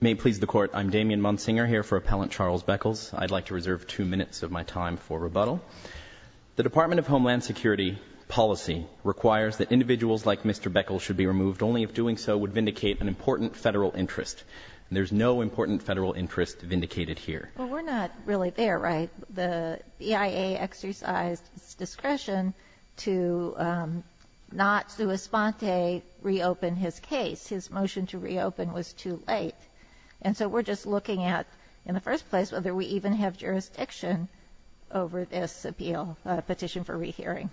May it please the Court, I'm Damian Munsinger here for Appellant Charles Beckles. I'd like to reserve two minutes of my time for rebuttal. The Department of Homeland Security policy requires that individuals like Mr. Beckles should be removed only if doing so would vindicate an important federal interest. There's no important federal interest vindicated here. Well, we're not really there, right? The BIA exercised its discretion to not sui sponte reopen his case. His motion to reopen was too late. And so we're just looking at, in the first place, whether we even have jurisdiction over this appeal, petition for rehearing.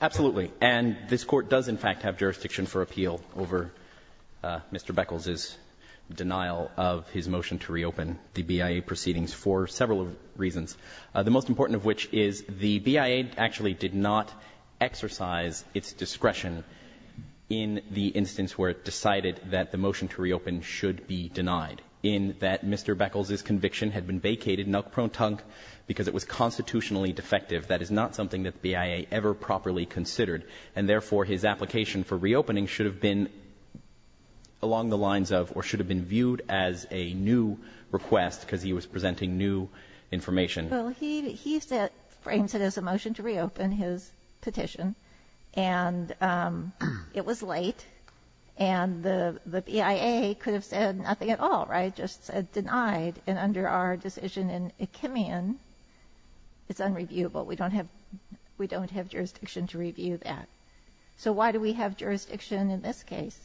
Absolutely. And this Court does, in fact, have jurisdiction for appeal over Mr. Beckles' denial of his motion to reopen the BIA proceedings for several reasons, the most important of which is the BIA actually did not exercise its discretion in the instance where it decided that the motion to reopen should be denied, in that Mr. Beckles' conviction had been vacated, nuck-prone-tunk, because it was constitutionally defective. That is not something that the BIA ever properly considered. And therefore, his application for reopening should have been along the lines of, or should have been viewed as a new request because he was presenting new information. Well, he frames it as a motion to reopen his petition, and it was late, and the BIA could have said nothing at all, right? Just said denied. And under our decision in Achimian, it's unreviewable. We don't have jurisdiction to review that. So why do we have jurisdiction in this case?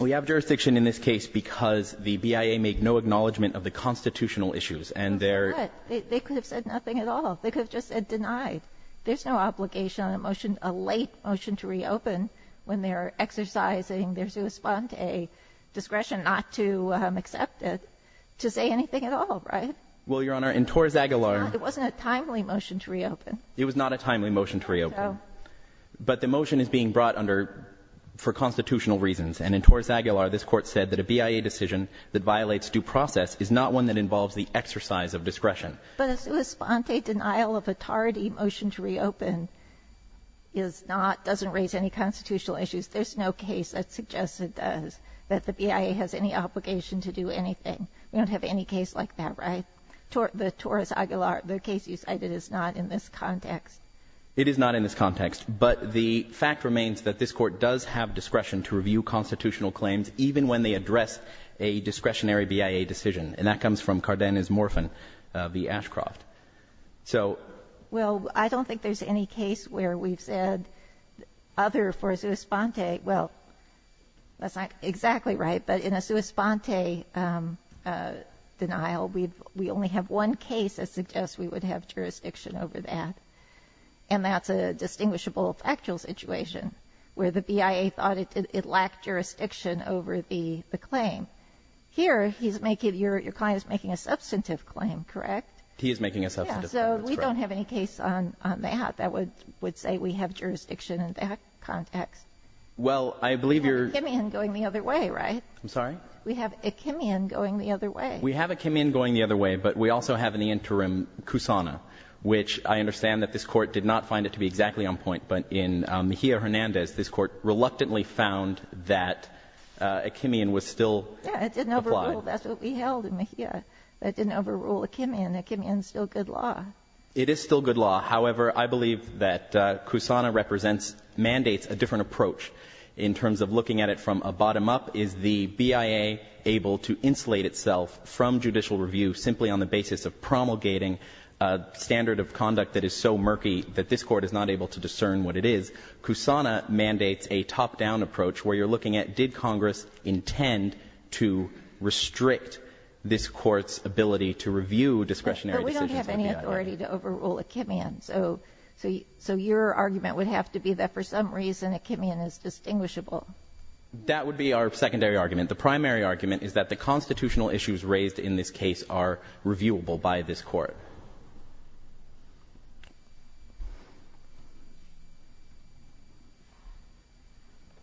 We have jurisdiction in this case because the BIA made no acknowledgment of the constitutional issues, and there — But they could have said nothing at all. They could have just said denied. There's no obligation on a motion, a late motion to reopen, when they're exercising their sua sponte discretion not to accept it, to say anything at all, right? Well, Your Honor, in Torres Aguilar — It wasn't a timely motion to reopen. It was not a timely motion to reopen. No. But the motion is being brought under for constitutional reasons. And in Torres Aguilar, this Court said that a BIA decision that violates due process is not one that involves the exercise of discretion. But a sua sponte denial of a tardy motion to reopen is not — doesn't raise any constitutional issues. There's no case that suggests it does, that the BIA has any obligation to do anything. We don't have any case like that, right? But the Torres Aguilar — the case you cited is not in this context. It is not in this context. But the fact remains that this Court does have discretion to review constitutional claims, even when they address a discretionary BIA decision. And that comes from Cardenas Morphin v. Ashcroft. So — Well, I don't think there's any case where we've said other for sua sponte — well, that's not exactly right. But in a sua sponte denial, we've — we only have one case that suggests we would have jurisdiction over that. And that's a distinguishable factual situation, where the BIA thought it lacked jurisdiction over the claim. Here, he's making — your client is making a substantive claim, correct? He is making a substantive claim. Yeah. So we don't have any case on that that would say we have jurisdiction in that context. Well, I believe you're — We have a Kimian going the other way, right? I'm sorry? We have a Kimian going the other way. We have a Kimian going the other way, but we also have in the interim Kusana, which I understand that this Court did not find it to be exactly on point. But in Mejia-Hernandez, this Court reluctantly found that a Kimian was still — Yeah, it didn't overrule. That's what we held in Mejia. That didn't overrule a Kimian. A Kimian is still good law. It is still good law. However, I believe that Kusana represents — mandates a different approach in terms of looking at it from a bottom-up. Is the BIA able to insulate itself from judicial review simply on the basis of promulgating a standard of conduct that is so murky that this Court is not able to discern what it is? Kusana mandates a top-down approach where you're looking at, did Congress intend to restrict this Court's ability to review discretionary decisions of the BIA? To overrule a Kimian. So your argument would have to be that for some reason a Kimian is distinguishable. That would be our secondary argument. The primary argument is that the constitutional issues raised in this case are reviewable by this Court.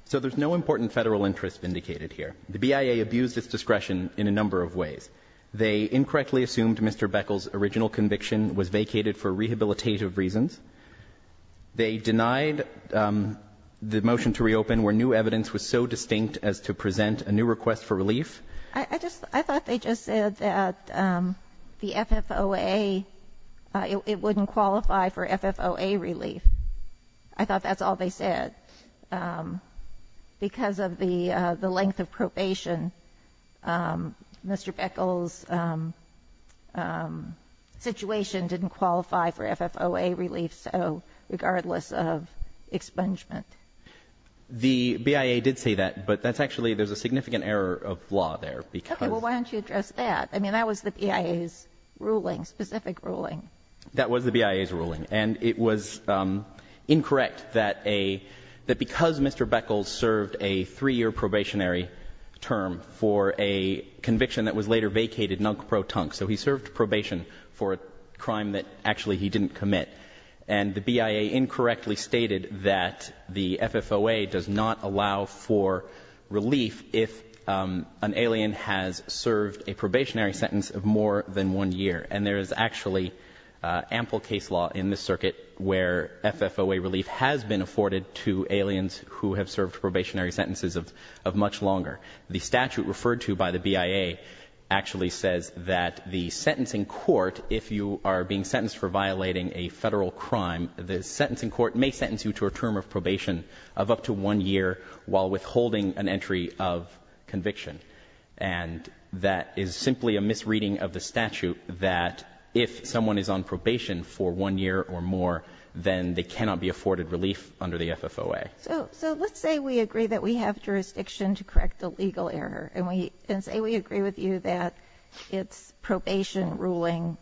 So there's no important Federal interest vindicated here. The BIA abused its discretion in a number of ways. They incorrectly assumed Mr. Beckel's original conviction was vacated for rehabilitative reasons. They denied the motion to reopen where new evidence was so distinct as to present a new request for relief. I just — I thought they just said that the FFOA, it wouldn't qualify for FFOA relief. I thought that's all they said. Because of the length of probation, Mr. Beckel's situation didn't qualify for FFOA relief, so — regardless of expungement. The BIA did say that, but that's actually — there's a significant error of law there, because — Okay. Well, why don't you address that? I mean, that was the BIA's ruling, specific ruling. That was the BIA's ruling. And it was incorrect that a — that because Mr. Beckel served a three-year probationary term for a conviction that was later vacated, nunk-pro-tunk, so he served probation for a crime that actually he didn't commit, and the BIA incorrectly stated that the FFOA does not allow for relief if an alien has served a probationary sentence of more than one year. And there is actually ample case law in this circuit where FFOA relief has been afforded to aliens who have served probationary sentences of much longer. The statute referred to by the BIA actually says that the sentencing court, if you are being sentenced for violating a federal crime, the sentencing court may sentence you to a term of probation of up to one year while withholding an entry of conviction. And that is simply a misreading of the statute that if someone is on probation for one year or more, then they cannot be afforded relief under the FFOA. So let's say we agree that we have jurisdiction to correct a legal error. And say we agree with you that its probation ruling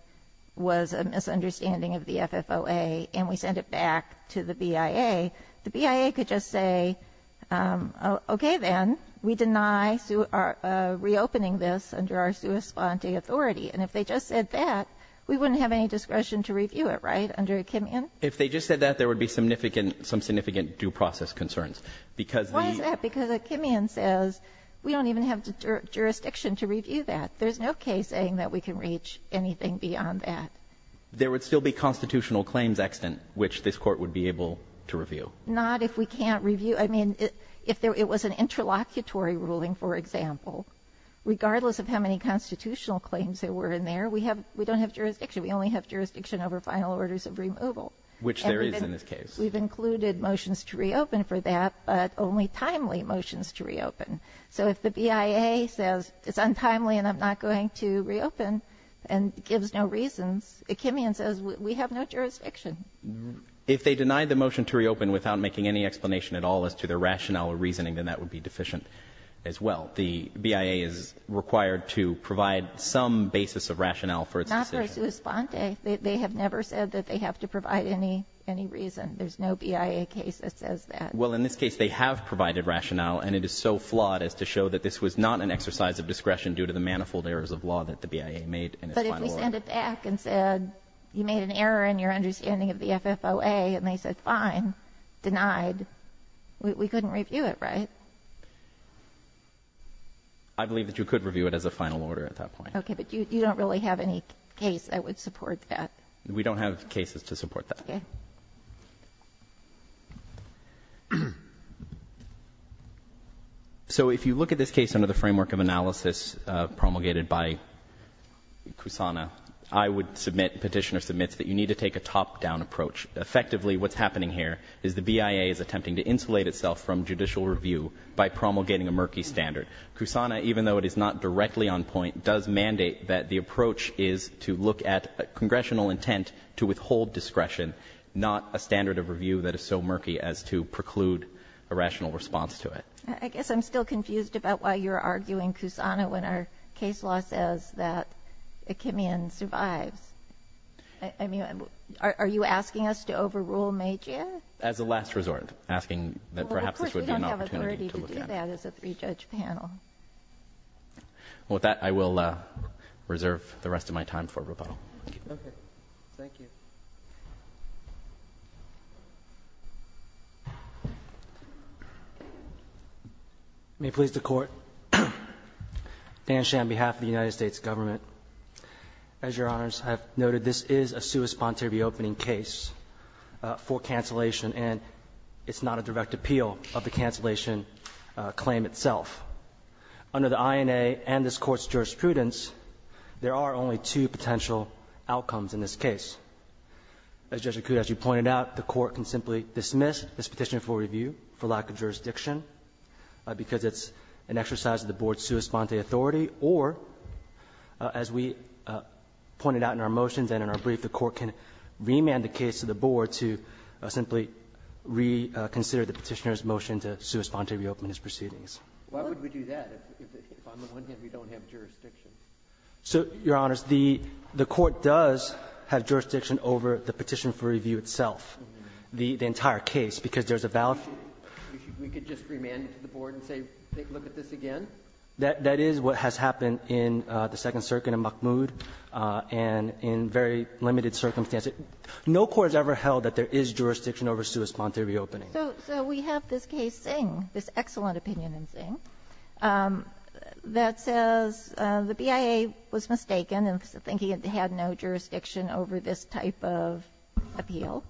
was a misunderstanding of the FFOA, and we send it back to the BIA. The BIA could just say, okay, then, we deny reopening this under our sua sponte authority. And if they just said that, we wouldn't have any discretion to review it, right, under Achimian? If they just said that, there would be some significant due process concerns. Why is that? Because Achimian says we don't even have jurisdiction to review that. There's no case saying that we can reach anything beyond that. There would still be constitutional claims extant, which this court would be able to review. Not if we can't review. I mean, if it was an interlocutory ruling, for example, regardless of how many constitutional claims there were in there, we don't have jurisdiction. We only have jurisdiction over final orders of removal. Which there is in this case. We've included motions to reopen for that, but only timely motions to reopen. So if the Achimian says we have no jurisdiction. If they deny the motion to reopen without making any explanation at all as to their rationale or reasoning, then that would be deficient as well. The BIA is required to provide some basis of rationale for its decision. Not for sua sponte. They have never said that they have to provide any reason. There's no BIA case that says that. Well, in this case, they have provided rationale, and it is so flawed as to show that this was not an exercise of discretion due to the manifold errors of law that the BIA made in its final order. But if we send it back and said you made an error in your understanding of the FFOA, and they said fine, denied, we couldn't review it, right? I believe that you could review it as a final order at that point. Okay, but you don't really have any case that would support that. We don't have cases to support that. Okay. So if you look at this case under the framework of analysis promulgated by Kusana, I would submit, Petitioner submits, that you need to take a top-down approach. Effectively, what's happening here is the BIA is attempting to insulate itself from judicial review by promulgating a murky standard. Kusana, even though it is not directly on point, does mandate that the approach is to look at a congressional intent to withhold discretion, not a standard of review that is so murky as to preclude a rational response to it. I guess I'm still confused about why you're arguing Kusana when our case law says that Achimian survives. I mean, are you asking us to overrule Magia? As a last resort, asking that perhaps this would be an opportunity to look at. Well, of course, we don't have authority to do that as a three-judge panel. Well, with that, I will reserve the rest of my time for rebuttal. Okay. Thank you. May it please the Court. Dan Shan on behalf of the United States Government. As Your Honors have noted, this is a sui sponsoree reopening case for cancellation, and it's not a direct appeal of the cancellation claim itself. Under the INA and this Court's jurisprudence, there are only two potential outcomes in this case. As Judge Acuda, as you pointed out, the Court can simply dismiss this petition for review for lack of jurisdiction because it's an exercise of the Board's sua sponte authority, or, as we pointed out in our motions and in our brief, the Court can remand the case to the Board to simply reconsider the Petitioner's motion to sua sponte reopen his proceedings. Why would we do that if on the one hand we don't have jurisdiction? So, Your Honors, the Court does have jurisdiction over the petition for review itself, the entire case, because there's a valid fee. We could just remand it to the Board and say, look at this again? That is what has happened in the Second Circuit in Mahmoud and in very limited circumstances. No Court has ever held that there is jurisdiction over sua sponte reopening. So we have this case, Zing, this excellent opinion in Zing, that says the BIA was mistaken in thinking it had no jurisdiction over this type of appeal,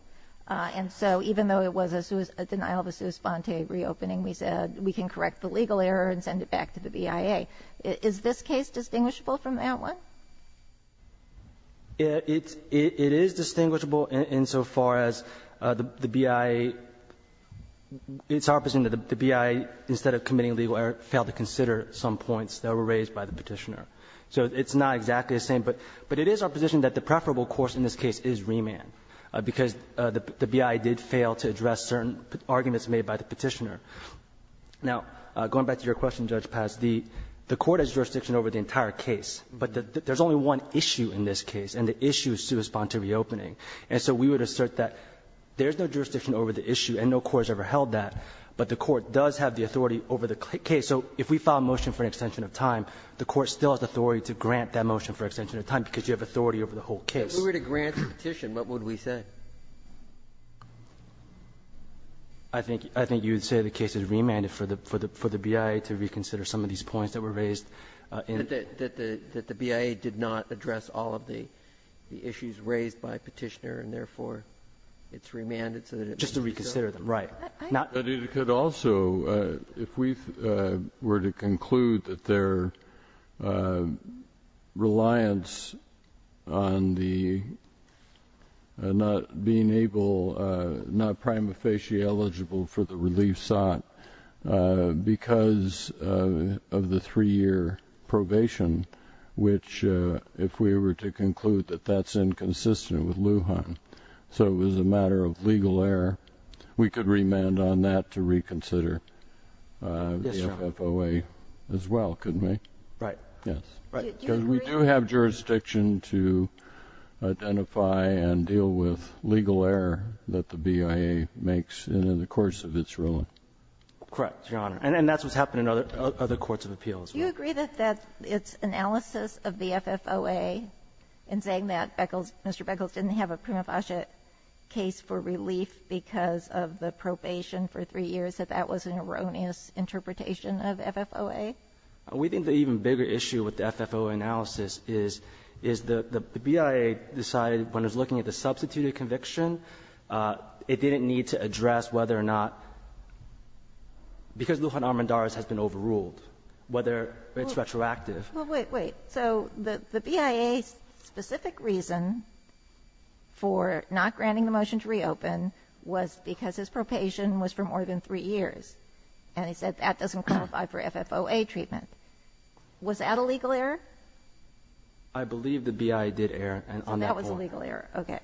and so even though it was a denial of a sua sponte reopening, we said we can correct the legal error and send it back to the BIA. Is this case distinguishable from that one? It is distinguishable insofar as the BIA – it's our position that the BIA, instead of committing legal error, failed to consider some points that were raised by the Petitioner. So it's not exactly the same, but it is our position that the preferable course in this case is remand, because the BIA did fail to address certain arguments made by the Petitioner. Now, going back to your question, Judge Paz, the Court has jurisdiction over the entire case, but there's only one issue in this case, and the issue is sua sponte reopening. And so we would assert that there's no jurisdiction over the issue, and no Court has ever held that, but the Court does have the authority over the case. So if we file a motion for an extension of time, the Court still has authority to grant that motion for extension of time, because you have authority over the whole case. If we were to grant the petition, what would we say? I think you would say the case is remanded for the BIA to reconsider some of these points that were raised in the case. That the BIA did not address all of the issues raised by Petitioner, and therefore it's remanded so that it would be considered. Just to reconsider them, right. But it could also, if we were to conclude that their reliance on the not being able to, not prima facie eligible for the relief sought, because of the three-year probation, which if we were to conclude that that's inconsistent with Lujan, so it was a matter of legal error, we could remand on that to reconsider the FFOA as well, couldn't we? Right. Yes. Right. Because we do have jurisdiction to identify and deal with legal error that the BIA makes in the course of its ruling. Correct, Your Honor. And that's what's happened in other courts of appeals. Do you agree that that's analysis of the FFOA in saying that Beckels, Mr. Beckels didn't have a prima facie case for relief because of the probation for three years, that that was an erroneous interpretation of FFOA? We think the even bigger issue with the FFOA analysis is the BIA decided when it was looking at the substituted conviction, it didn't need to address whether or not, because Lujan Armendariz has been overruled, whether it's retroactive. Well, wait, wait. So the BIA's specific reason for not granting the motion to reopen was because his probation was for more than three years. And he said that doesn't qualify for FFOA treatment. Was that a legal error? I believe the BIA did err on that point. That was a legal error. OK.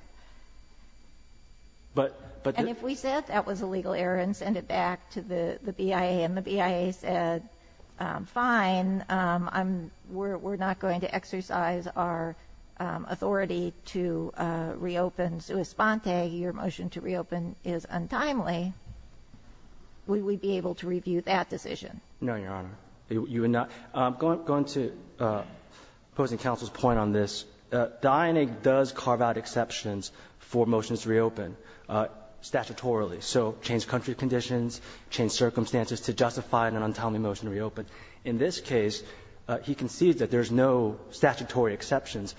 But if we said that was a legal error and send it back to the BIA and the BIA said, fine, we're not going to exercise our authority to reopen sua sponte, your motion to reopen is untimely. Would we be able to review that decision? No, Your Honor. You would not. Going to opposing counsel's point on this, the INA does carve out exceptions for motions to reopen statutorily. So change country conditions, change circumstances to justify an untimely motion to reopen. In this case, he concedes that there's no statutory exceptions.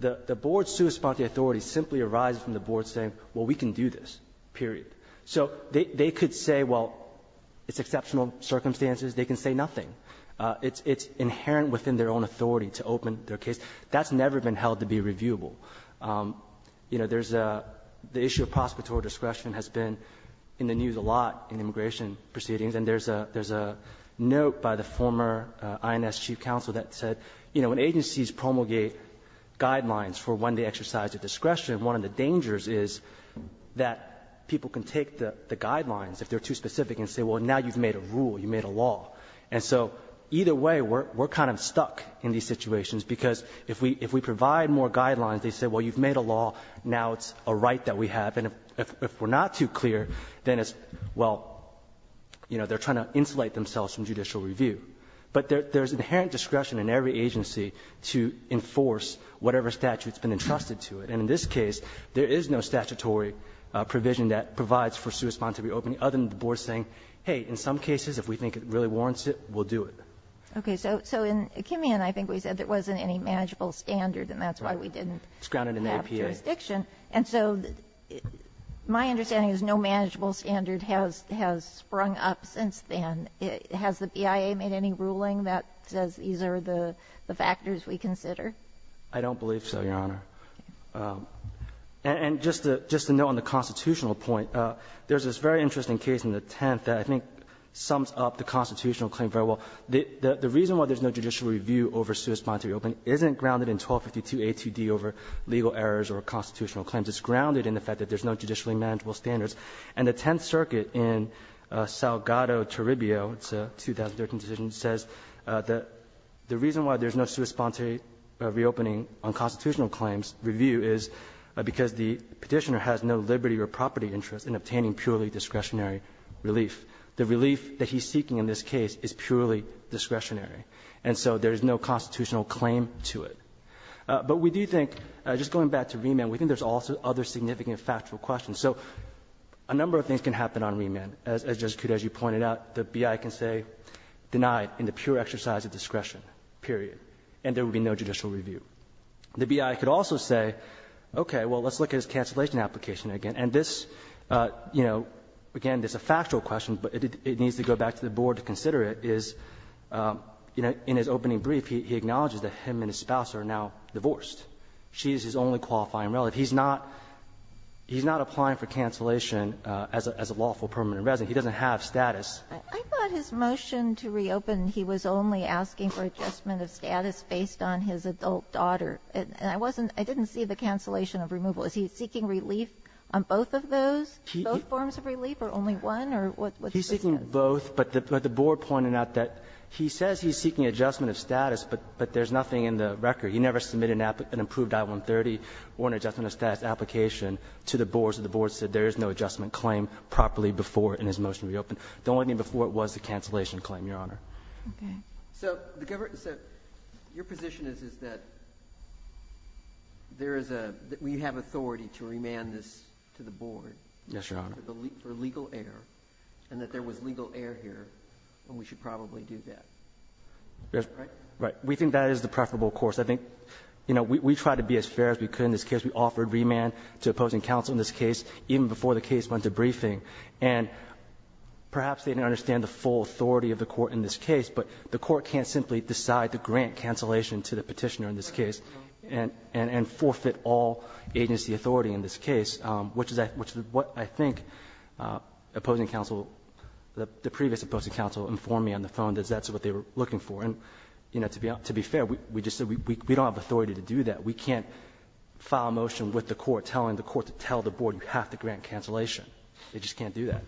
The board's sua sponte authority simply arises from the board saying, well, we can do this, period. So they could say, well, it's exceptional circumstances. They can say nothing. It's inherent within their own authority to open their case. That's never been held to be reviewable. The issue of prosecutorial discretion has been in the news a lot in immigration proceedings, and there's a note by the former INS chief counsel that said, when agencies promulgate guidelines for when they exercise their discretion, one of the dangers is that people can take the guidelines, if they're too specific, and say, well, now you've made a rule, you made a law. And so either way, we're kind of stuck in these situations, because if we provide more guidelines, they say, well, you've made a law, now it's a right that we have. And if we're not too clear, then it's, well, they're trying to insulate themselves from judicial review. But there's inherent discretion in every agency to enforce whatever statute's been entrusted to it. And in this case, there is no statutory provision that provides for sui sponsor reopening, other than the board saying, hey, in some cases, if we think it really warrants it, we'll do it. Okay, so in Kimian, I think we said there wasn't any manageable standard, and that's why we didn't have jurisdiction. It's grounded in APA. And so my understanding is no manageable standard has sprung up since then. Has the BIA made any ruling that says these are the factors we consider? I don't believe so, Your Honor. And just to note on the constitutional point, there's this very interesting case in the Tenth that I think sums up the constitutional claim very well. The reason why there's no judicial review over sui sponsor reopening isn't grounded in 1252a2d over legal errors or constitutional claims. It's grounded in the fact that there's no judicially manageable standards. And the Tenth Circuit in Salgado-Taribio, it's a 2013 decision, says that the reason why there's no sui sponsor reopening on constitutional claims review is because the petitioner has no liberty or property interest in obtaining purely discretionary relief. The relief that he's seeking in this case is purely discretionary. And so there's no constitutional claim to it. But we do think, just going back to remand, we think there's also other significant factual questions. So a number of things can happen on remand. And as Judge Cuda, as you pointed out, the BI can say denied in the pure exercise of discretion, period. And there would be no judicial review. The BI could also say, okay, well, let's look at his cancellation application again. And this, again, this is a factual question, but it needs to go back to the board to consider it. Is in his opening brief, he acknowledges that him and his spouse are now divorced. She's his only qualifying relative. He's not applying for cancellation as a lawful permanent resident. He doesn't have status. I thought his motion to reopen, he was only asking for adjustment of status based on his adult daughter. And I wasn't, I didn't see the cancellation of removal. Is he seeking relief on both of those, both forms of relief, or only one, or what's the difference? He's seeking both, but the board pointed out that he says he's seeking adjustment of status, but there's nothing in the record. He never submitted an approved I-130 or an adjustment of status application to the board. So the board said there is no adjustment claim properly before in his motion to reopen. The only thing before was the cancellation claim, Your Honor. So the government, so your position is that there is a, we have authority to remand this to the board. Yes, Your Honor. For legal error, and that there was legal error here, and we should probably do that. Right? Right. We think that is the preferable course. I think, you know, we tried to be as fair as we could in this case. We offered remand to opposing counsel in this case, even before the case went to briefing. And perhaps they didn't understand the full authority of the court in this case, but the court can't simply decide to grant cancellation to the petitioner in this case and forfeit all agency authority in this case, which is what I think opposing counsel, the previous opposing counsel informed me on the phone that that's what they were looking for. And, you know, to be fair, we just said we don't have authority to do that. We can't file a motion with the court telling the court to tell the board you have to grant cancellation. They just can't do that.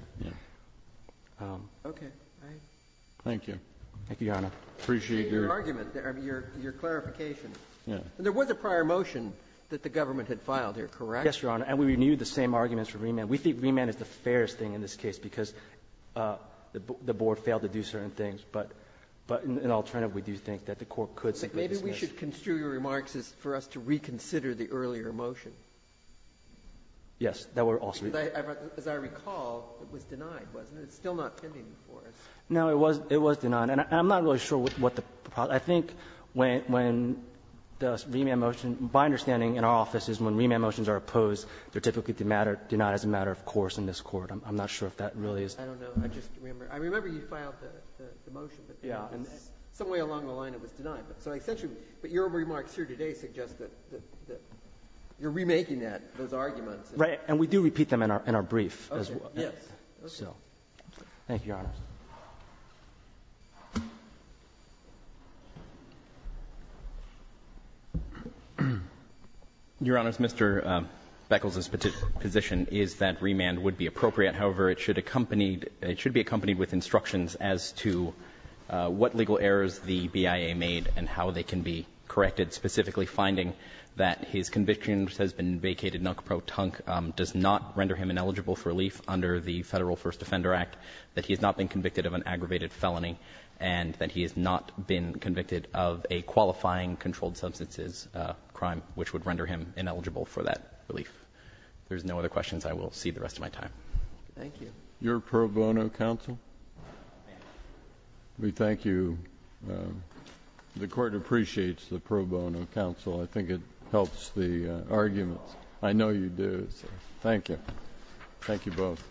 Okay. Thank you. Thank you, Your Honor. Appreciate your argument, your clarification. There was a prior motion that the government had filed here, correct? Yes, Your Honor. And we renewed the same arguments for remand. We think remand is the fairest thing in this case because the board failed to do certain things. But in alternative, we do think that the court could simply dismiss. Maybe we should construe your remarks as for us to reconsider the earlier motion. Yes. As I recall, it was denied, wasn't it? It's still not pending for us. No, it was denied. And I'm not really sure what the – I think when the remand motion – my understanding in our office is when remand motions are opposed, they're typically denied as a matter of course in this court. I'm not sure if that really is. I don't know. I just remember – I remember you filed the motion. Yeah. And some way along the line it was denied. So essentially – but your remarks here today suggest that you're remaking that, those arguments. Right. And we do repeat them in our brief as well. Yes. So thank you, Your Honor. Your Honor, Mr. Beckles' position is that remand would be appropriate. However, it should accompanied – it should be accompanied with instructions as to what legal errors the BIA made and how they can be corrected, specifically finding that his conviction has been vacated, nuck, pro, tunk, does not render him ineligible for relief under the Federal First Defender Act, that he has not been convicted of an aggravated felony, and that he has not been convicted of a qualifying controlled substances crime, which would render him ineligible for that relief. If there's no other questions, I will see the rest of my time. Your pro bono counsel? We thank you. The Court appreciates the pro bono counsel. I think it helps the arguments. I know you do. Thank you. Thank you both.